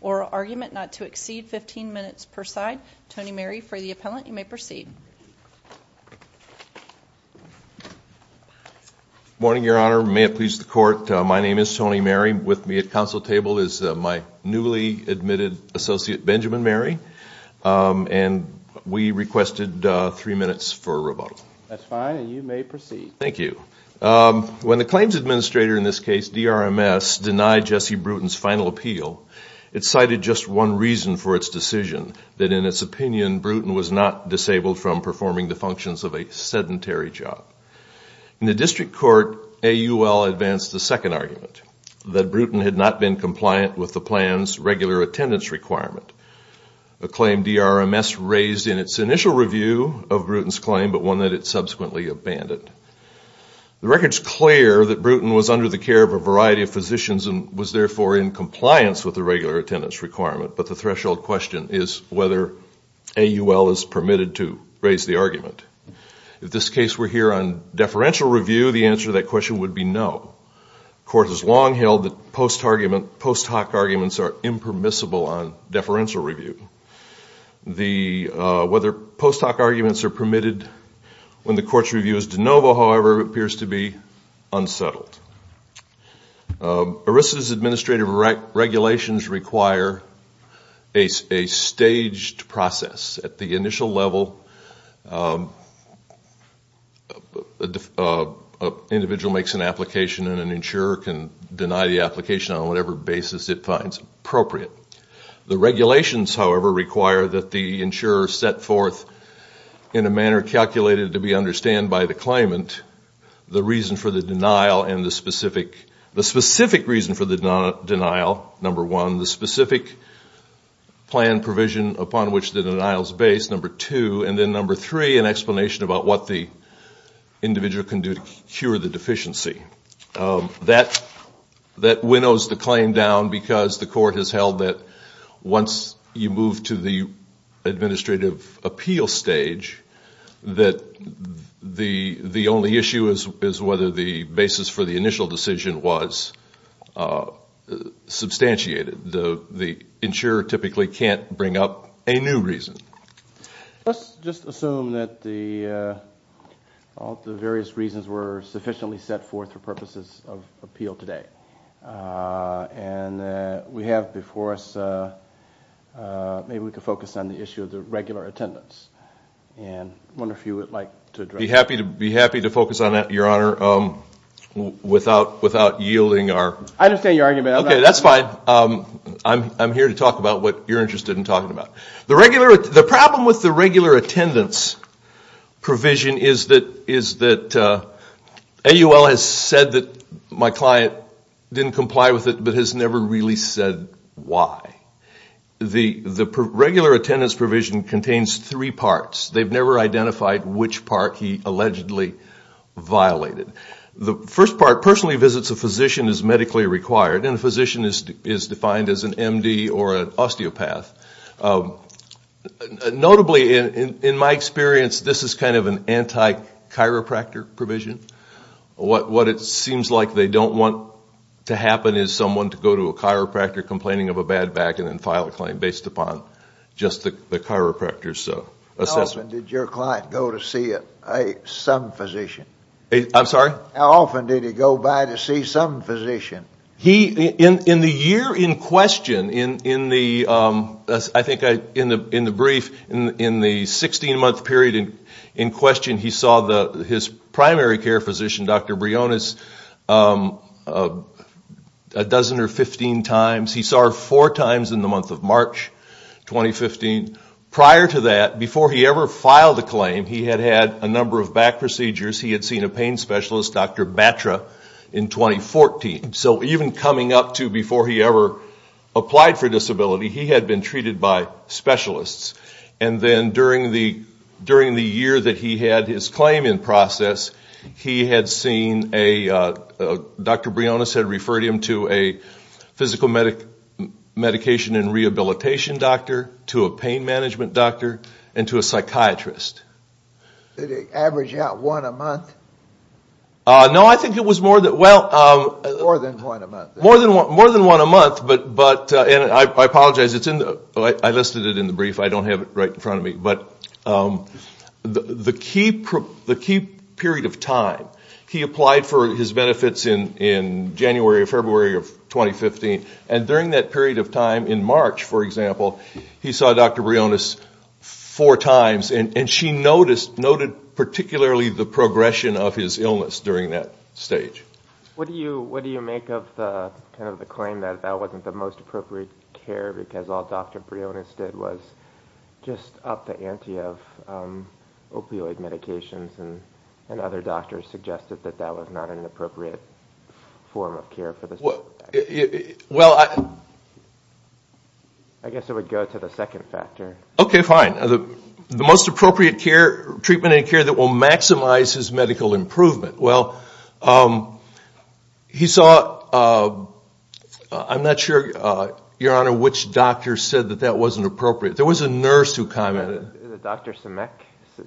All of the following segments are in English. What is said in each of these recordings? or argument not to exceed 15 minutes per side, Tony Mary, for the appellant, you may proceed. Morning, Your Honor. May it please the Court, my name is Tony Mary. With me at counsel table is my newly admitted associate, Benjamin Mary, and we requested three minutes for rebuttal. Thank you. When the claims administrator in this case, DRMS, denied Jesse Bruton's final appeal, it cited just one reason for its decision, that in its opinion Bruton was not disabled from performing the functions of a sedentary job. In the district court, AUL advanced the second argument, that Bruton had not been compliant with the plan's regular attendance requirement. A claim DRMS raised in its initial review of Bruton's claim, but one that it subsequently abandoned. The record's clear that Bruton was under the care of a variety of physicians and was therefore in compliance with the regular attendance requirement, but the threshold question is whether AUL is permitted to raise the argument. If this case were here on deferential review, the answer to that question would be no. The Court has long held that post hoc arguments are impermissible on deferential review. Whether post hoc arguments are permitted when the Court's review is de novo, however, appears to be unsettled. ERISA's administrative regulations require a staged process. At the initial level, an individual makes an application of a deferential claim, and an insurer can deny the application on whatever basis it finds appropriate. The regulations, however, require that the insurer set forth, in a manner calculated to be understood by the claimant, the specific reason for the denial, number one, the specific plan provision upon which the denial is based, number two, and then number three, an explanation about what the individual can do to cure the deficiency. That winnows the claim down, because the Court has held that once you move to the administrative appeal stage, that the only issue is whether the basis for the initial decision was substantiated. The insurer typically can't bring up a new reason. Let's just assume that the various reasons were sufficiently set forth for purposes of review. We have before us, maybe we could focus on the issue of the regular attendance. I wonder if you would like to address that. I'd be happy to focus on that, Your Honor, without yielding our... I understand your argument. Okay, that's fine. I'm here to talk about what you're interested in talking about. The problem with the regular attendance provision is that AUL has said that my client didn't comply with it, but has never really said why. The regular attendance provision contains three parts. They've never identified which part he allegedly violated. The first part, personally visits a physician as medically required, and a physician is defined as an MD or an osteopath. Notably, in my experience, this is kind of an anti-chiropractor provision. What it seems like they don't want to happen is someone to go to a chiropractor complaining of a bad back and then file a claim based upon just the chiropractor's assessment. How often did your client go to see some physician? In the year in question, I think in the brief, in the 16-month period in question, he saw his primary care physician, Dr. Briones, a dozen or 15 times. He saw her four times in the month of March 2015. Prior to that, before he ever filed a claim, he had had a number of back procedures. He had seen a pain specialist, Dr. Batra, in 2014. So even coming up to before he ever applied for disability, he had been treated by specialists. And then during the year that he had his claim in process, he had seen a, Dr. Briones had referred him to a physical medication and rehabilitation doctor, to a pain management doctor, and to a psychiatrist. Did he average out one a month? No, I think it was more than one a month. And I apologize, I listed it in the brief. I don't have it right in front of me. But the key period of time, he applied for his benefits in January or February of 2015. And during that period of time, in March, for example, he saw Dr. Briones four times. And she noted particularly the progression of his illness during that stage. What do you make of the claim that that wasn't the most appropriate care, because all Dr. Briones did was just up the ante of opioid medications and other doctors suggested that that was not an appropriate form of care? I guess it would go to the second factor. Okay, fine. The most appropriate treatment and care that will maximize his medical improvement. Well, he saw, I'm not sure, Your Honor, which doctor said that that wasn't appropriate. There was a nurse who commented. Dr. Simek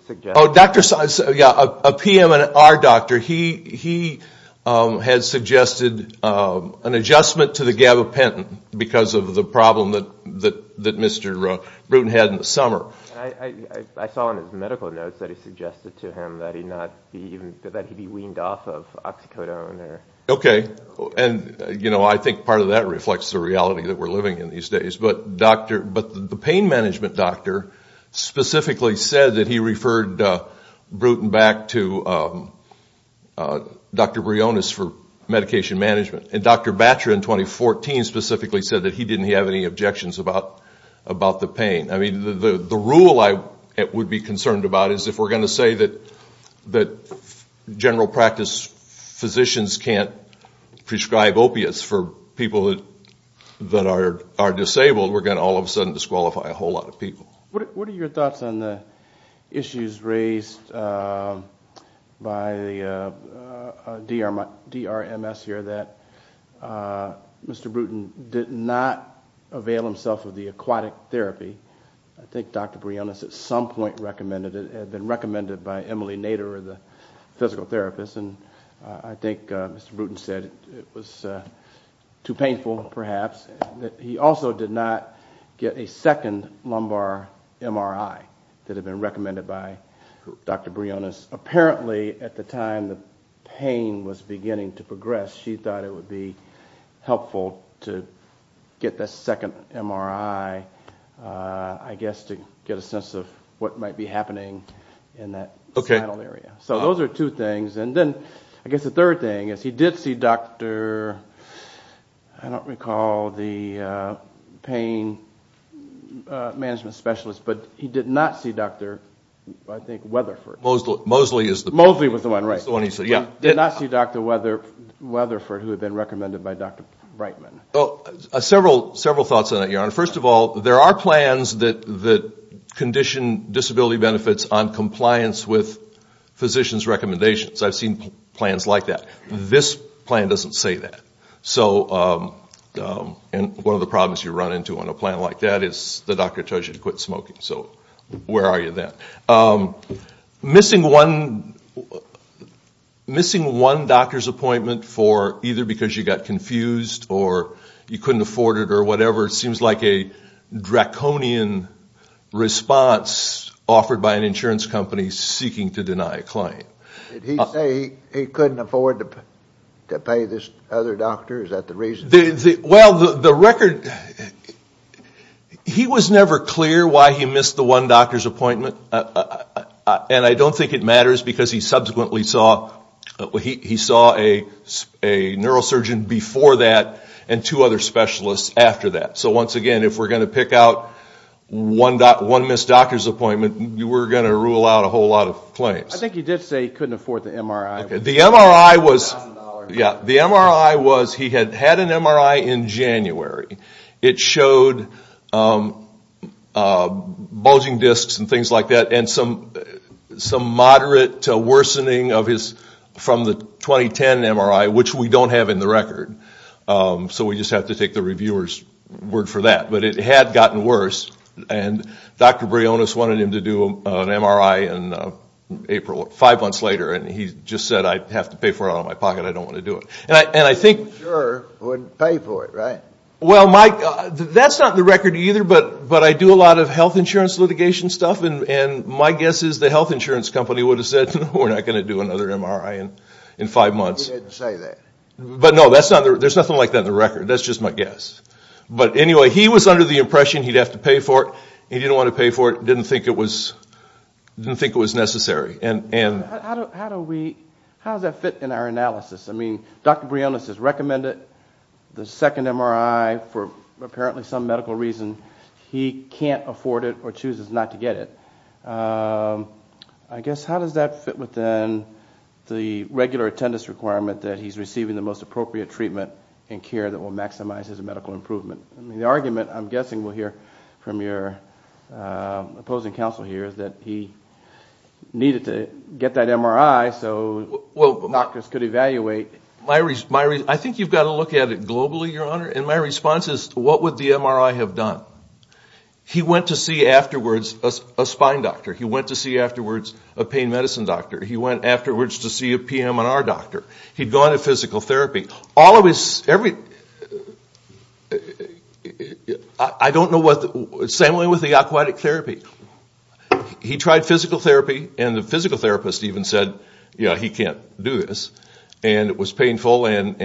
suggested. A PM and R doctor, he had suggested an adjustment to the gabapentin because of the problem that Mr. Bruton had in the summer. I saw in his medical notes that he suggested to him that he be weaned off of oxycodone. Okay. And I think part of that reflects the reality that we're living in these days. But the pain management doctor specifically said that he referred Bruton back to Dr. Briones for medication management. And Dr. Batra in 2014 specifically said that he didn't have any objections about the pain. I mean, the rule I would be concerned about is if we're going to say that general practice physicians can't prescribe opiates for people that are disabled, we're going to all of a sudden disqualify a whole lot of people. What are your thoughts on the issues raised by the DRMS here that Mr. Bruton did not avail himself of the aquatic therapy? I think Dr. Briones at some point recommended it. It had been recommended by Emily Nader, the physical therapist, and I think Mr. Bruton said it was too painful perhaps. He also did not get a second lumbar MRI that had been recommended by Dr. Briones. Apparently at the time the pain was beginning to progress, she thought it would be helpful to get the second MRI. I guess to get a sense of what might be happening in that spinal area. So those are two things. And then I guess the third thing is he did see Dr. I don't recall the pain management specialist, but he did not see Dr. I think Weatherford. Mosley was the one, right. He did not see Dr. Weatherford who had been recommended by Dr. Brightman. I've seen plans that condition disability benefits on compliance with physicians' recommendations. I've seen plans like that. This plan doesn't say that. One of the problems you run into on a plan like that is the doctor tells you to quit smoking, so where are you then? Missing one doctor's appointment either because you got confused or you couldn't afford it or whatever, it seems like a draconian response offered by an insurance company seeking to deny a client. Did he say he couldn't afford to pay this other doctor? Is that the reason? Well, the record, he was never clear why he missed the one doctor's appointment. And I don't think it matters because he subsequently saw a neurosurgeon before that and two other specialists after that. So once again, if we're going to pick out one missed doctor's appointment, we're going to rule out a whole lot of claims. I think he did say he couldn't afford the MRI. He had had an MRI in January. It showed bulging discs and things like that and some moderate worsening from the 2010 MRI, which we don't have in the record. So we just have to take the reviewer's word for that. But it had gotten worse and Dr. Brionis wanted him to do an MRI in April, five months later, and he just said, I have to pay for it out of my pocket. I don't want to do it. And I think... You sure wouldn't pay for it, right? Well, Mike, that's not in the record either, but I do a lot of health insurance litigation stuff. And my guess is the health insurance company would have said, we're not going to do another MRI in five months. You didn't say that. But no, there's nothing like that in the record. That's just my guess. But anyway, he was under the impression he'd have to pay for it. He didn't want to pay for it, didn't think it was necessary. How does that fit in our analysis? I mean, Dr. Brionis has recommended the second MRI for apparently some medical reason. He can't afford it or chooses not to get it. I guess, how does that fit within the regular attendance requirement that he's receiving the most appropriate treatment and care that will maximize his medical improvement? I mean, the argument I'm guessing we'll hear from your opposing counsel here is that he needed to get that MRI so doctors could evaluate. I think you've got to look at it globally, Your Honor. And my response is, what would the MRI have done? He went to see afterwards a spine doctor. He went to see afterwards a pain medicine doctor. He went afterwards to see a PM and R doctor. He'd gone to physical therapy. Same way with the aquatic therapy. He tried physical therapy and the physical therapist even said, yeah, he can't do this. And it was painful and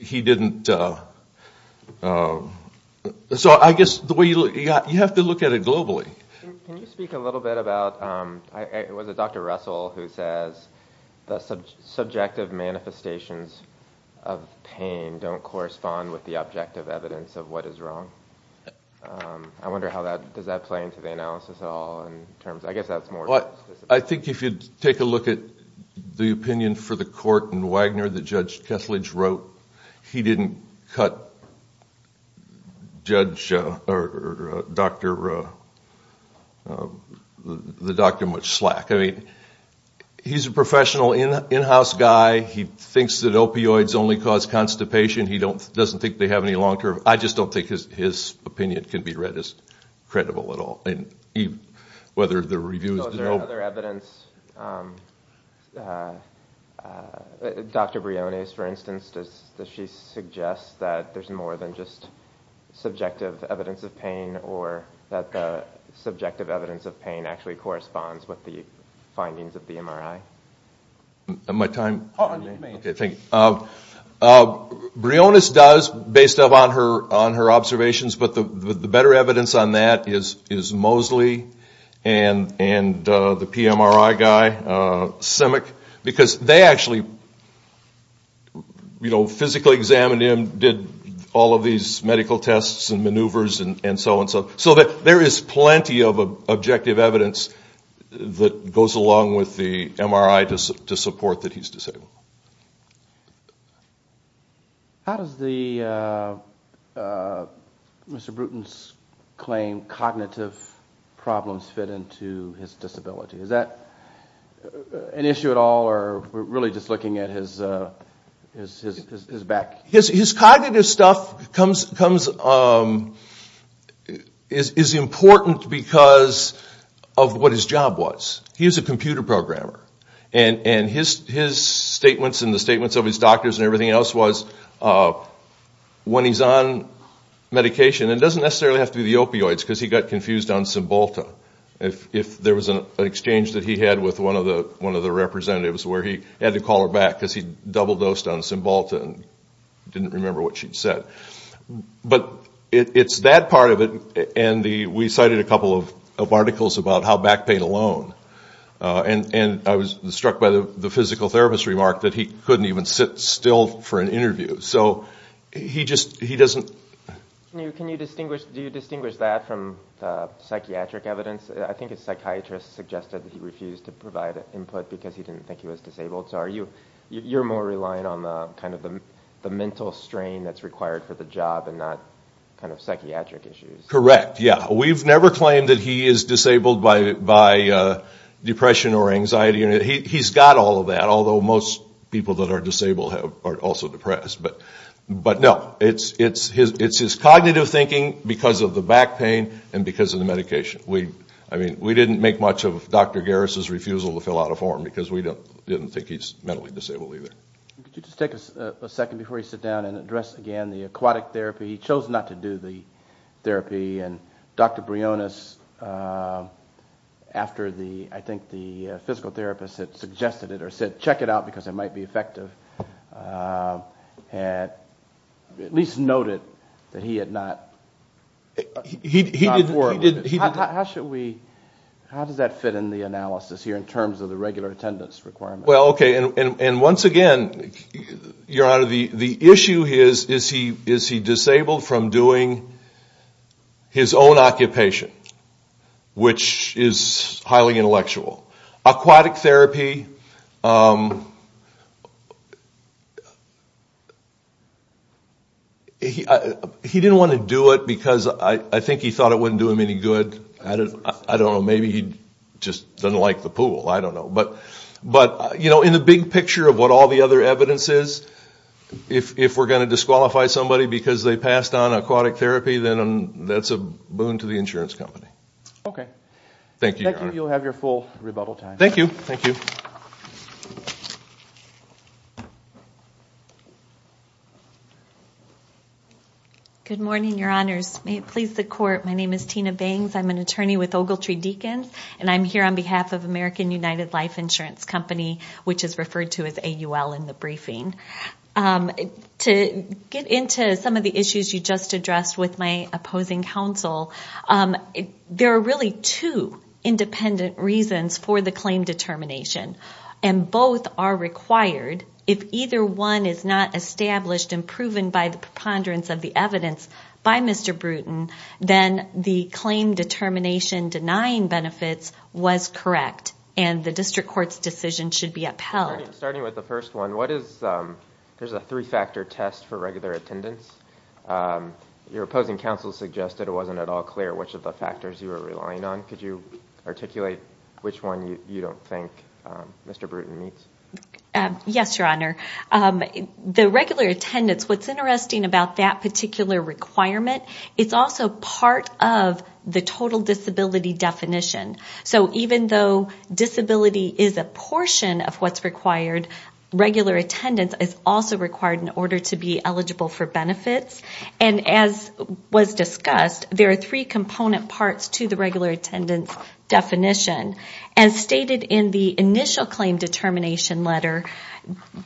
he didn't... So I guess the way you look at it, you have to look at it globally. Can you speak a little bit about, was it Dr. Russell who says the subjective manifestations of pain don't correspond with the objective evidence of what is wrong? I wonder how that, does that play into the analysis at all in terms, I guess that's more... I think if you take a look at the opinion for the court in Wagner that Judge Kesslidge wrote, he didn't cut the doctor much slack. I mean, he's a professional in-house guy. He thinks that opioids only cause constipation. He doesn't think they have any long-term... I just don't think his opinion can be read as credible at all. Those are other evidence. Dr. Briones, for instance, does she suggest that there's more than just subjective evidence of pain or that the subjective evidence of pain actually corresponds with the findings of the MRI? My time? Okay, thank you. Briones does, based on her observations, but the better evidence on that is Moseley and the PMRI guy, Simic, because they actually physically examined him, did all of these medical tests and maneuvers and so on. So there is plenty of objective evidence that goes along with the MRI to support that he's disabled. How does Mr. Bruton's claim cognitive problems fit into his disability? Is that an issue at all, or we're really just looking at his back? His cognitive stuff is important because of what his job was. He was a computer programmer, and his statements and the statements of his doctors and everything else was when he's on medication, and it doesn't necessarily have to be the opioids, because he got confused on Cymbalta, if there was an exchange that he had with one of the representatives where he had to call her back because he double-dosed on Cymbalta and didn't remember what she'd said. But it's that part of it, and we cited a couple of articles about how back pain alone, and I was struck by the physical therapist remark that he couldn't even sit still for an interview. Do you distinguish that from psychiatric evidence? I think a psychiatrist suggested that he refused to provide input because he didn't think he was disabled, so you're more reliant on the mental strain that's required for the job and not psychiatric issues. Correct, yeah. We've never claimed that he is disabled by depression or anxiety. He's got all of that, although most people that are disabled are also depressed. But no, it's his cognitive thinking because of the back pain and because of the medication. We didn't make much of Dr. Garris' refusal to fill out a form because we didn't think he's mentally disabled either. Could you just take a second before you sit down and address again the aquatic therapy? He chose not to do the therapy, and Dr. Brionis, after I think the physical therapist had suggested it or said check it out because it might be effective, at least noted that he had not... How does that fit in the analysis here in terms of the regular attendance requirement? Well, okay, and once again, your Honor, the issue is, is he disabled? Disabled from doing his own occupation, which is highly intellectual. Aquatic therapy... He didn't want to do it because I think he thought it wouldn't do him any good. I don't know, maybe he just doesn't like the pool, I don't know. But in the big picture of what all the other evidence is, if we're going to disqualify somebody because they passed on aquatic therapy, then that's a boon to the insurance company. Okay. Thank you, your Honor. Good morning, your Honors. May it please the Court, my name is Tina Bangs. I'm an attorney with Ogletree Deacons, and I'm here on behalf of American United Life Insurance Company, which is referred to as AUL in the briefing. To get into some of the issues you just addressed with my opposing counsel, there are really two independent reasons for the claim determination, and both are required. If either one is not established and proven by the preponderance of the evidence by Mr. Bruton, then the claim determination denying benefits was correct, and the District Court's decision should be upheld. Starting with the first one, there's a three-factor test for regular attendance. Your opposing counsel suggested it wasn't at all clear which of the factors you were relying on. Could you articulate which one you don't think Mr. Bruton meets? Yes, your Honor. The regular attendance, what's interesting about that particular requirement, it's also part of the total disability definition. So even though disability is a portion of what's required, regular attendance is also required in order to be eligible for benefits. And as was discussed, there are three component parts to the regular attendance definition. As stated in the initial claim determination letter,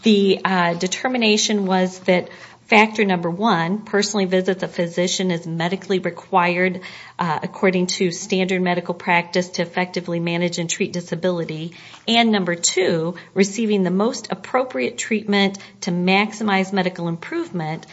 the determination was that factor number one, personally visits a physician as medically required according to standard medical practice to effectively manage and treat disability, and number two, receiving the most appropriate treatment to maximize medical improvement.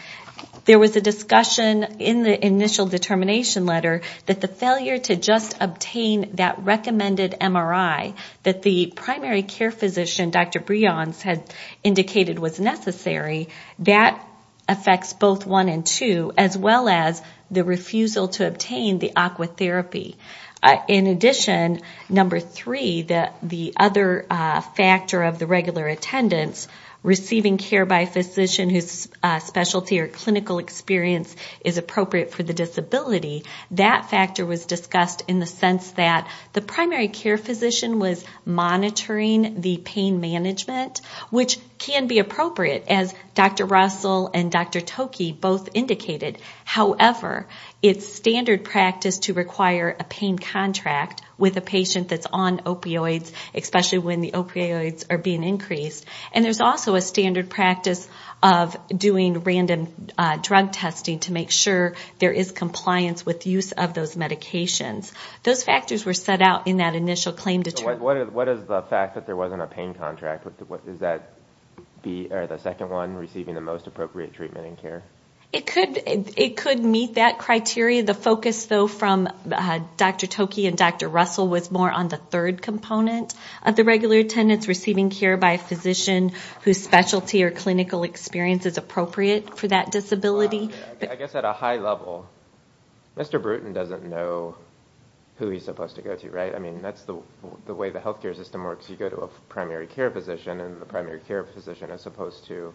There was a discussion in the initial determination letter that the failure to just obtain that recommended MRI that the primary care physician, Dr. Breons, had indicated was necessary, that affects both one and two, as well as the refusal to obtain the aqua therapy. In addition, number three, the other factor of the regular attendance, receiving care by a physician whose specialty or clinical experience is appropriate for the disability, that factor was discussed in the sense that the primary care physician was monitoring the pain management, which can be appropriate, as Dr. Russell and Dr. Toki both indicated. However, it's standard practice to require a pain contract with a patient that's on opioids, especially when the opioids are being increased, and there's also a standard practice of doing random drug testing to make sure there is compliance with use of those medications. Those factors were set out in that initial claim determination. What is the fact that there wasn't a pain contract? Is that the second one, receiving the most appropriate treatment and care? It could meet that criteria. The focus, though, from Dr. Toki and Dr. Russell was more on the third component of the regular attendance, receiving care by a physician whose specialty or clinical experience is appropriate for that disability. I guess at a high level, Mr. Bruton doesn't know who he's supposed to go to, right? I mean, that's the way the health care system works. You go to a primary care physician, and the primary care physician is supposed to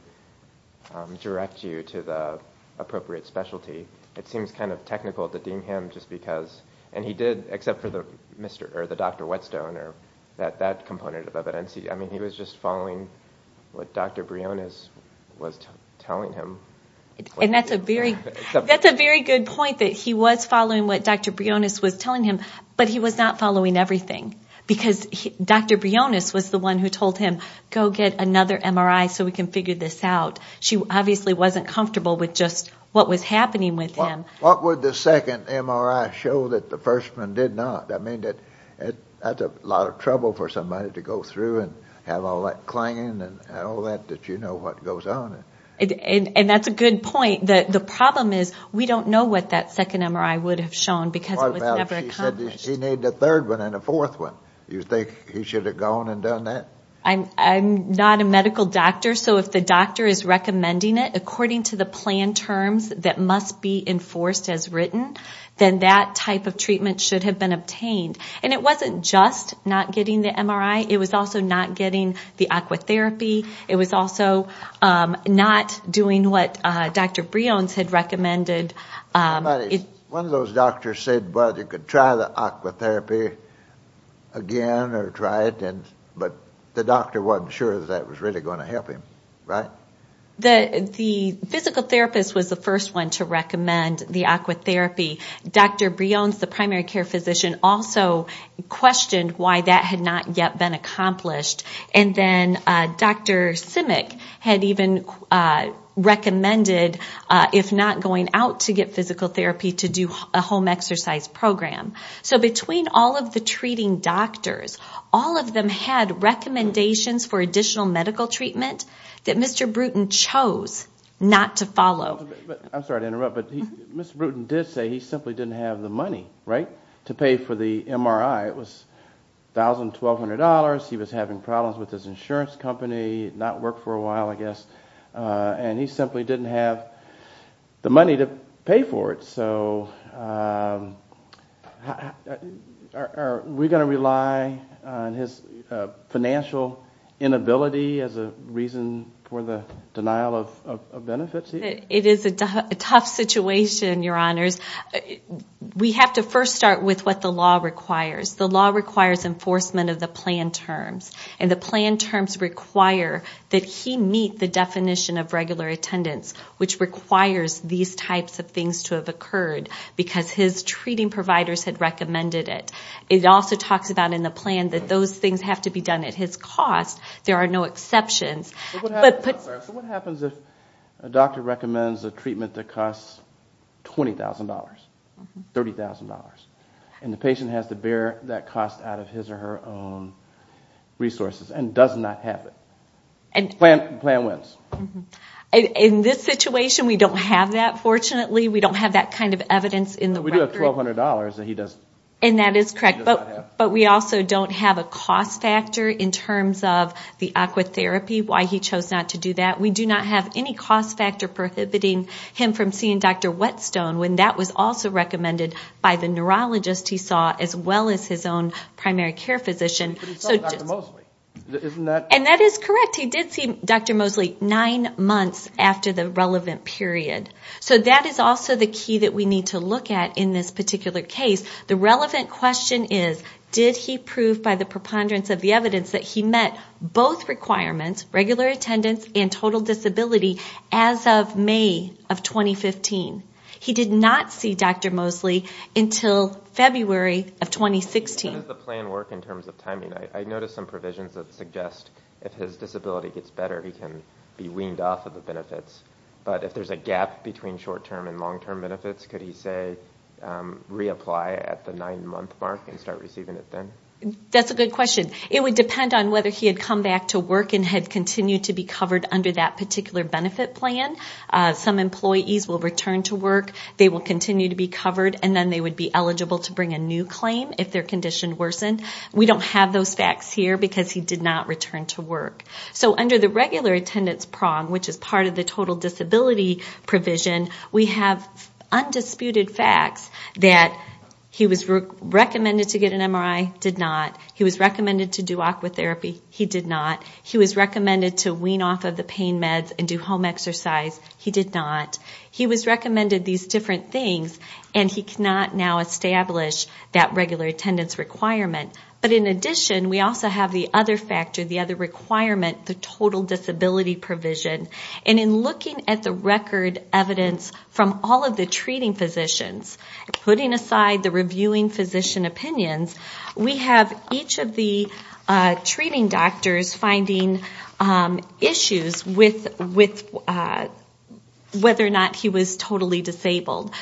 direct you to the appropriate specialty. It seems kind of technical to deem him just because. And he did, except for the Dr. Whetstone or that component of evidence. I mean, he was just following what Dr. Brionis was telling him. And that's a very good point, that he was following what Dr. Brionis was telling him, but he was not following everything, because Dr. Brionis was the one who told him, go get another MRI so we can figure this out. She obviously wasn't comfortable with just what was happening with him. What would the second MRI show that the first one did not? I mean, that's a lot of trouble for somebody to go through and have all that clanging and all that, that you know what goes on. And that's a good point. The problem is we don't know what that second MRI would have shown, because it was never accomplished. What about if she said she needed a third one and a fourth one? You think he should have gone and done that? I'm not a medical doctor, so if the doctor is recommending it according to the planned terms that must be enforced as written, then that type of treatment should have been obtained. And it wasn't just not getting the MRI. It was also not getting the aqua therapy. It was also not doing what Dr. Brionis had recommended. One of those doctors said, well, you could try the aqua therapy again or try it, but the doctor wasn't sure that that was really going to help him, right? The physical therapist was the first one to recommend the aqua therapy. Dr. Brionis, the primary care physician, also questioned why that had not yet been accomplished. And then Dr. Simic had even recommended, if not going out to get physical therapy, to do a home exercise program. So between all of the treating doctors, all of them had recommendations for additional medical treatment that Mr. Bruton chose not to follow. I'm sorry to interrupt, but Mr. Bruton did say he simply didn't have the money, right, to pay for the MRI. It was $1,200, he was having problems with his insurance company, not worked for a while, I guess, and he simply didn't have the money to pay for it. So are we going to rely on his financial inability as a reason for the denial of benefits? It is a tough situation, Your Honors. We have to first start with what the law requires. The law requires enforcement of the plan terms, and the plan terms require that he meet the definition of regular attendance, which requires these types of things to have occurred, because his treating providers had recommended it. It also talks about in the plan that those things have to be done at his cost. There are no exceptions. What happens if a doctor recommends a treatment that costs $20,000, $30,000, and the patient has to bear that cost out of his or her own resources, and does not have it? The plan wins. In this situation, we don't have that, fortunately. We don't have that kind of evidence in the record. And that is correct, but we also don't have a cost factor in terms of the aqua therapy, why he chose not to do that. We do not have any cost factor prohibiting him from seeing Dr. Whetstone, when that was also recommended by the neurologist he saw, as well as his own primary care physician. And that is correct, he did see Dr. Mosley nine months after the relevant period. So that is also the key that we need to look at in this particular case. The relevant question is, did he prove by the preponderance of the evidence that he met both requirements, regular attendance and total disability, as of May of 2015? He did not see Dr. Mosley until February of 2016. I noticed some provisions that suggest if his disability gets better, he can be weaned off of the benefits. But if there's a gap between short-term and long-term benefits, could he say, reapply at the nine-month mark and start receiving it then? That's a good question. It would depend on whether he had come back to work and had continued to be covered under that particular benefit plan. Some employees will return to work, they will continue to be covered, and then they would be eligible to bring a new claim if their condition worsened. We don't have those facts here because he did not return to work. So under the regular attendance prong, which is part of the total disability provision, we have undisputed facts that he was recommended to get an MRI, did not. He was recommended to do aqua therapy, he did not. He was recommended to wean off of the pain meds and do home exercise, he did not. He was recommended these different things, and he cannot now establish that regular attendance requirement. But in addition, we also have the other factor, the other requirement, the total disability provision. And in looking at the record evidence from all of the treating physicians, putting aside the reviewing physician opinions, we have each of the treating doctors finding issues with whether or not he was totally disabled.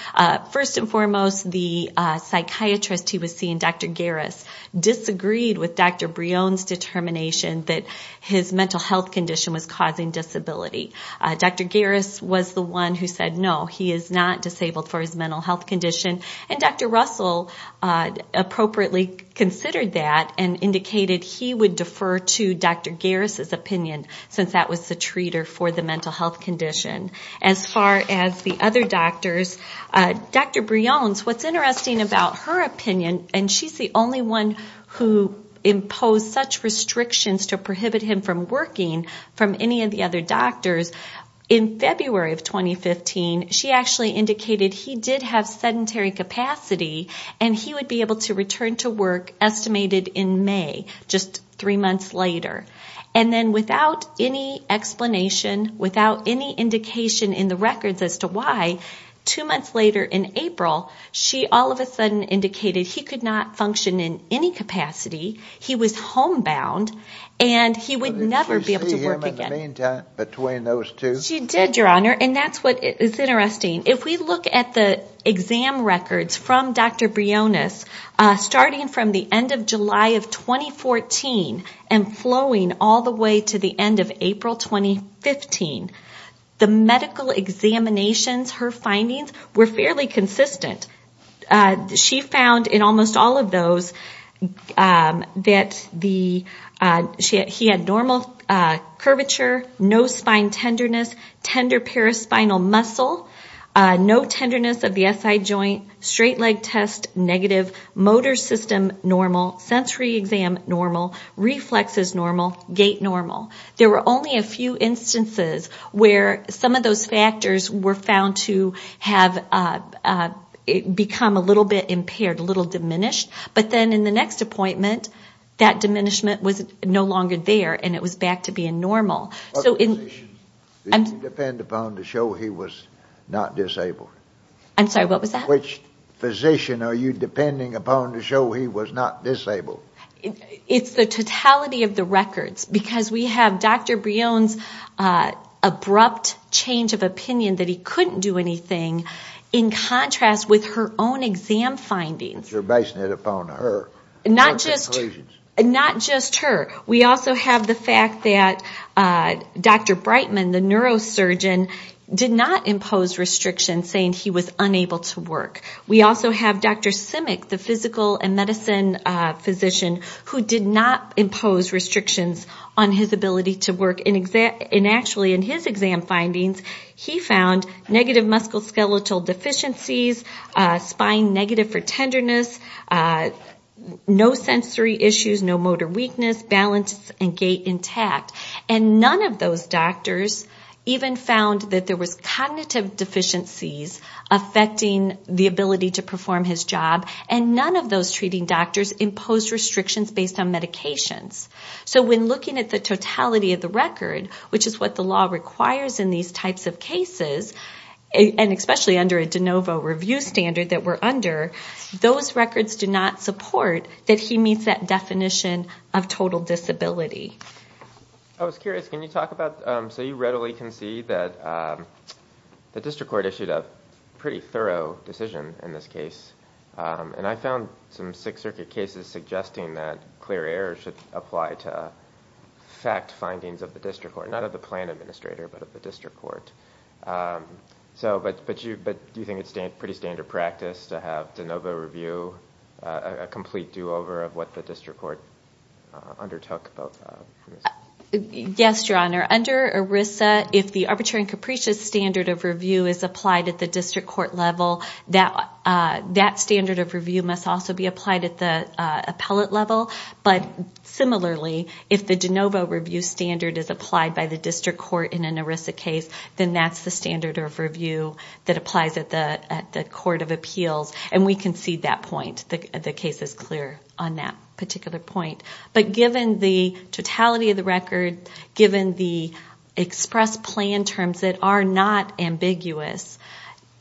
First and foremost, the psychiatrist he was seeing, Dr. Garris, disagreed with Dr. Brion's determination that his mental health condition was causing disability. Dr. Garris was the one who said no, he is not disabled for his mental health condition, and Dr. Russell appropriately considered that and indicated he would defer to Dr. Garris opinion since that was the treater for the mental health condition. As far as the other doctors, Dr. Brion's, what's interesting about her opinion, and she's the only one who imposed such restrictions to prohibit him from working from any of the other doctors, in February of 2015, she actually indicated he did have sedentary capacity and he would be able to return to work estimated in May, just three months later. And then without any explanation, without any indication in the records as to why, two months later in April, she all of a sudden indicated he could not function in any capacity, he was homebound, and he would never be able to work again. Did she see him in the meantime between those two? She did, Your Honor, and that's what is interesting. If we look at the exam records from Dr. Brion's, starting from the end of July of 2014 and flowing all the way to the end of April 2015, the medical examinations, her findings, were fairly consistent. She found in almost all of those that he had normal curvature, no spine tenderness, tender paraspinal muscle, no tenderness of the SI joint, straight leg test negative, motor system normal, sensory exam normal, reflexes normal, gait normal. There were only a few instances where some of those factors were found to have become a little bit impaired, a little diminished, but then in the next appointment, that diminishment was no longer there and it was back to being normal. Which physician are you depending upon to show he was not disabled? It's the totality of the records, because we have Dr. Brion's abrupt change of opinion that he couldn't do anything in contrast with her own exam findings. You're basing it upon her. Not just her. We also have the fact that Dr. Brightman, the neurosurgeon, did not impose restrictions saying he was unable to work. We also have Dr. Simic, the physical and medicine physician, who did not impose restrictions on his ability to work. And actually in his exam findings, he found negative musculoskeletal deficiencies, spine negative for tenderness, no sensory issues, no motor weakness, balance and gait intact. And none of those doctors even found that there was cognitive deficiencies affecting the ability to perform his job. And none of those treating doctors imposed restrictions based on medications. So when looking at the totality of the record, which is what the law requires in these types of cases, and especially under a de novo review standard that we're under, those records do not support that he meets that definition of total disability. I was curious, can you talk about... So you readily can see that the district court issued a pretty thorough decision in this case. And I found some Sixth Circuit cases suggesting that clear errors should apply to fact findings of the district court. Not of the plan administrator, but of the district court. But do you think it's pretty standard practice to have de novo review, a complete do-over of what the district court undertook? Yes, Your Honor. Under ERISA, if the arbitrary and capricious standard of review is applied at the district court level, that standard of review must also be applied at the appellate level. But similarly, if the de novo review standard is applied by the district court in an ERISA case, then that's the standard of review that applies at the court of appeals. And we concede that point. The case is clear on that particular point. But given the totality of the record, given the express plan terms that are not ambiguous,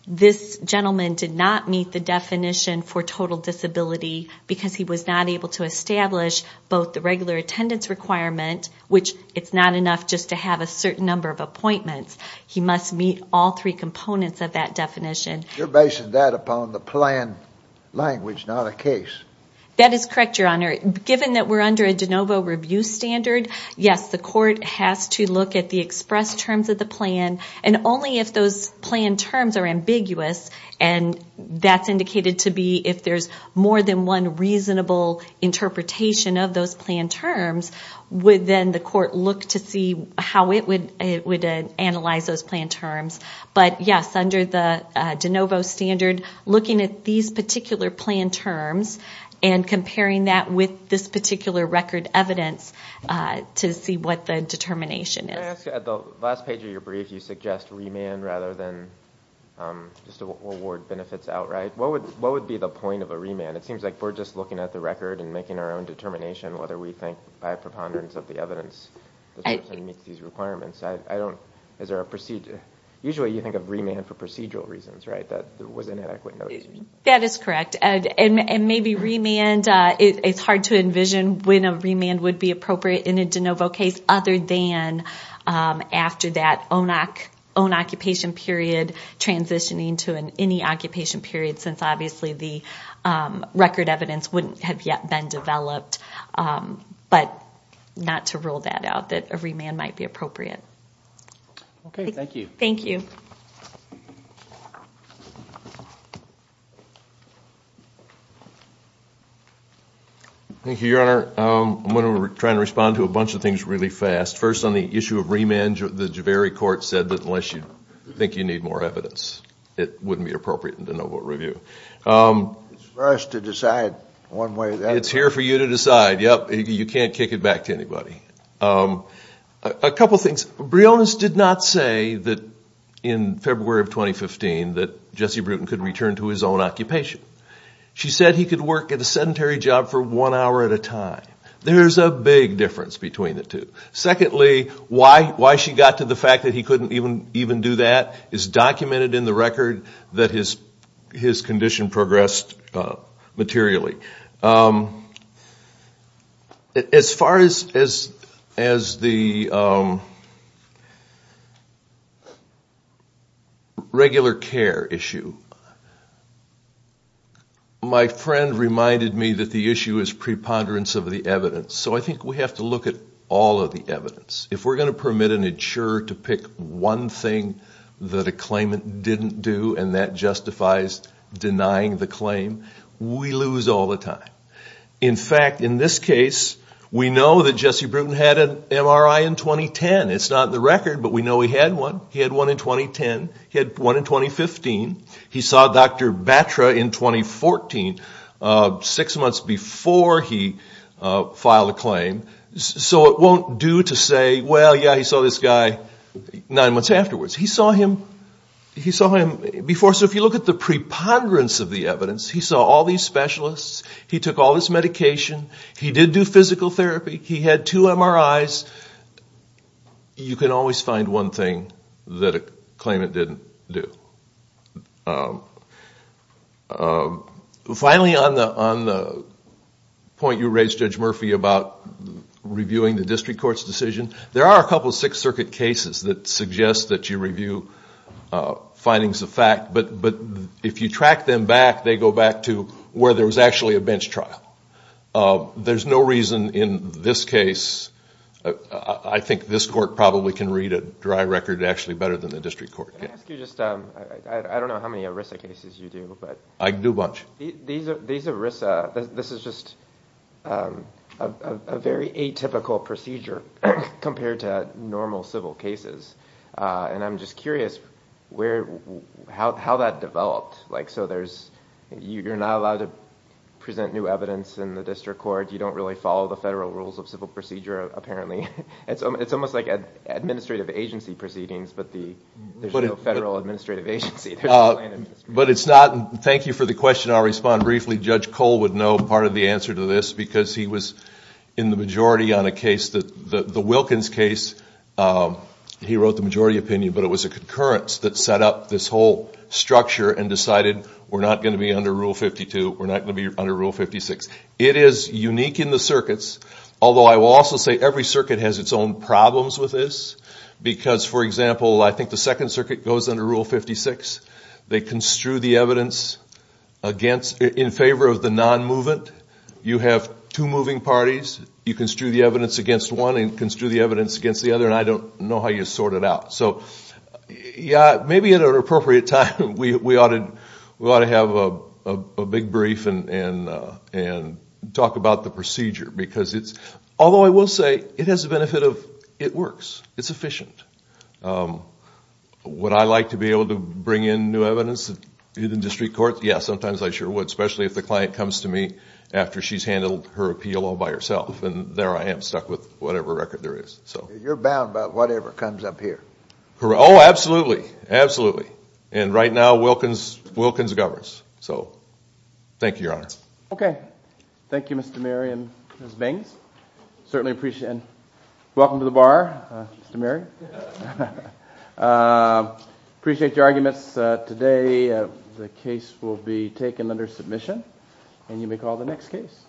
this gentleman did not meet the definition for total disability because he was not able to establish both the regular attendance requirement, which it's not enough just to have a certain number of appointments. He must meet all three components of that definition. You're basing that upon the plan language, not a case. That is correct, Your Honor. Given that we're under a de novo review standard, yes, the court has to look at the express terms of the plan. And only if those plan terms are ambiguous, and that's indicated to be if there's more than one reasonable interpretation of those plan terms, would then the court look to see how it would analyze those plan terms. But yes, under the de novo standard, looking at these particular plan terms and comparing that with this particular record evidence to see what the determination is. Can I ask, at the last page of your brief, you suggest remand rather than just award benefits outright. What would be the point of a remand? It seems like we're just looking at the record and making our own determination whether we think, by preponderance of the evidence, this person meets these requirements. Usually you think of remand for procedural reasons, right? That is correct. Maybe remand, it's hard to envision when a remand would be appropriate in a de novo case other than after that own occupation period, transitioning to any occupation period, since obviously the record evidence wouldn't have yet been developed. But not to rule that out, that a remand might be appropriate. Thank you, Your Honor. I'm going to try to respond to a bunch of things really fast. First on the issue of remand, the Javeri court said that unless you think you need more evidence, it wouldn't be appropriate in de novo review. It's for us to decide one way or the other. It's here for you to decide. You can't kick it back to anybody. A couple things. Briones did not say that in February of 2015 that Jesse Bruton could return to his own occupation. She said he could work at a sedentary job for one hour at a time. There's a big difference between the two. Secondly, why she got to the fact that he couldn't even do that is documented in the record that his condition progressed materially. As far as the regular care issue, my friend reminded me that the issue is preponderance of the evidence. So I think we have to look at all of the evidence. If we're going to permit an insurer to pick one thing that a claimant didn't do, and that justifies denying the claim, we lose all the time. In fact, in this case, we know that Jesse Bruton had an MRI in 2010. It's not in the record, but we know he had one. He had one in 2010. He had one in 2015. He saw Dr. Batra in 2014, six months before he filed a claim. So it won't do to say, well, yeah, he saw this guy nine months afterwards. He saw him before. So if you look at the preponderance of the evidence, he saw all these specialists. He took all this medication. He did do physical therapy. He had two MRIs. You can always find one thing that a claimant didn't do. Finally, on the point you raised, Judge Murphy, about reviewing the district court's decision, there are a couple of Sixth Circuit cases that suggest that you review findings of fact, but if you track them back, they go back to where there was actually a bench trial. There's no reason in this case. I think this court probably can read a dry record actually better than the district court can. I can do a bunch. This is just a very atypical procedure compared to normal civil cases, and I'm just curious how that developed. You're not allowed to present new evidence in the district court. You don't really follow the federal rules of civil procedure, apparently. It's almost like administrative agency proceedings, but there's no federal administrative agency. Thank you for the question. I'll respond briefly. Judge Cole would know part of the answer to this, because he was in the majority on a case, the Wilkins case. He wrote the majority opinion, but it was a concurrence that set up this whole structure and decided we're not going to be under Rule 52, we're not going to be under Rule 56. It is unique in the circuits, although I will also say every circuit has its own problems with this, because, for example, I think the Second Circuit goes under Rule 56. They construe the evidence in favor of the non-movement. You have two moving parties. You construe the evidence against one and construe the evidence against the other, and I don't know how you sort it out. Maybe at an appropriate time we ought to have a big brief and talk about the procedure. Although I will say it has the benefit of it works. It's efficient. Would I like to be able to bring in new evidence in the district court? Yes, sometimes I sure would, especially if the client comes to me after she's handled her appeal all by herself. There I am stuck with whatever record there is. You're bound by whatever comes up here. Oh, absolutely, absolutely, and right now Wilkins governs, so thank you, Your Honor. Okay, thank you, Mr. Mary and Ms. Baines. Welcome to the bar, Mr. Mary. Appreciate your arguments today. The case will be taken under submission, and you may call the next case.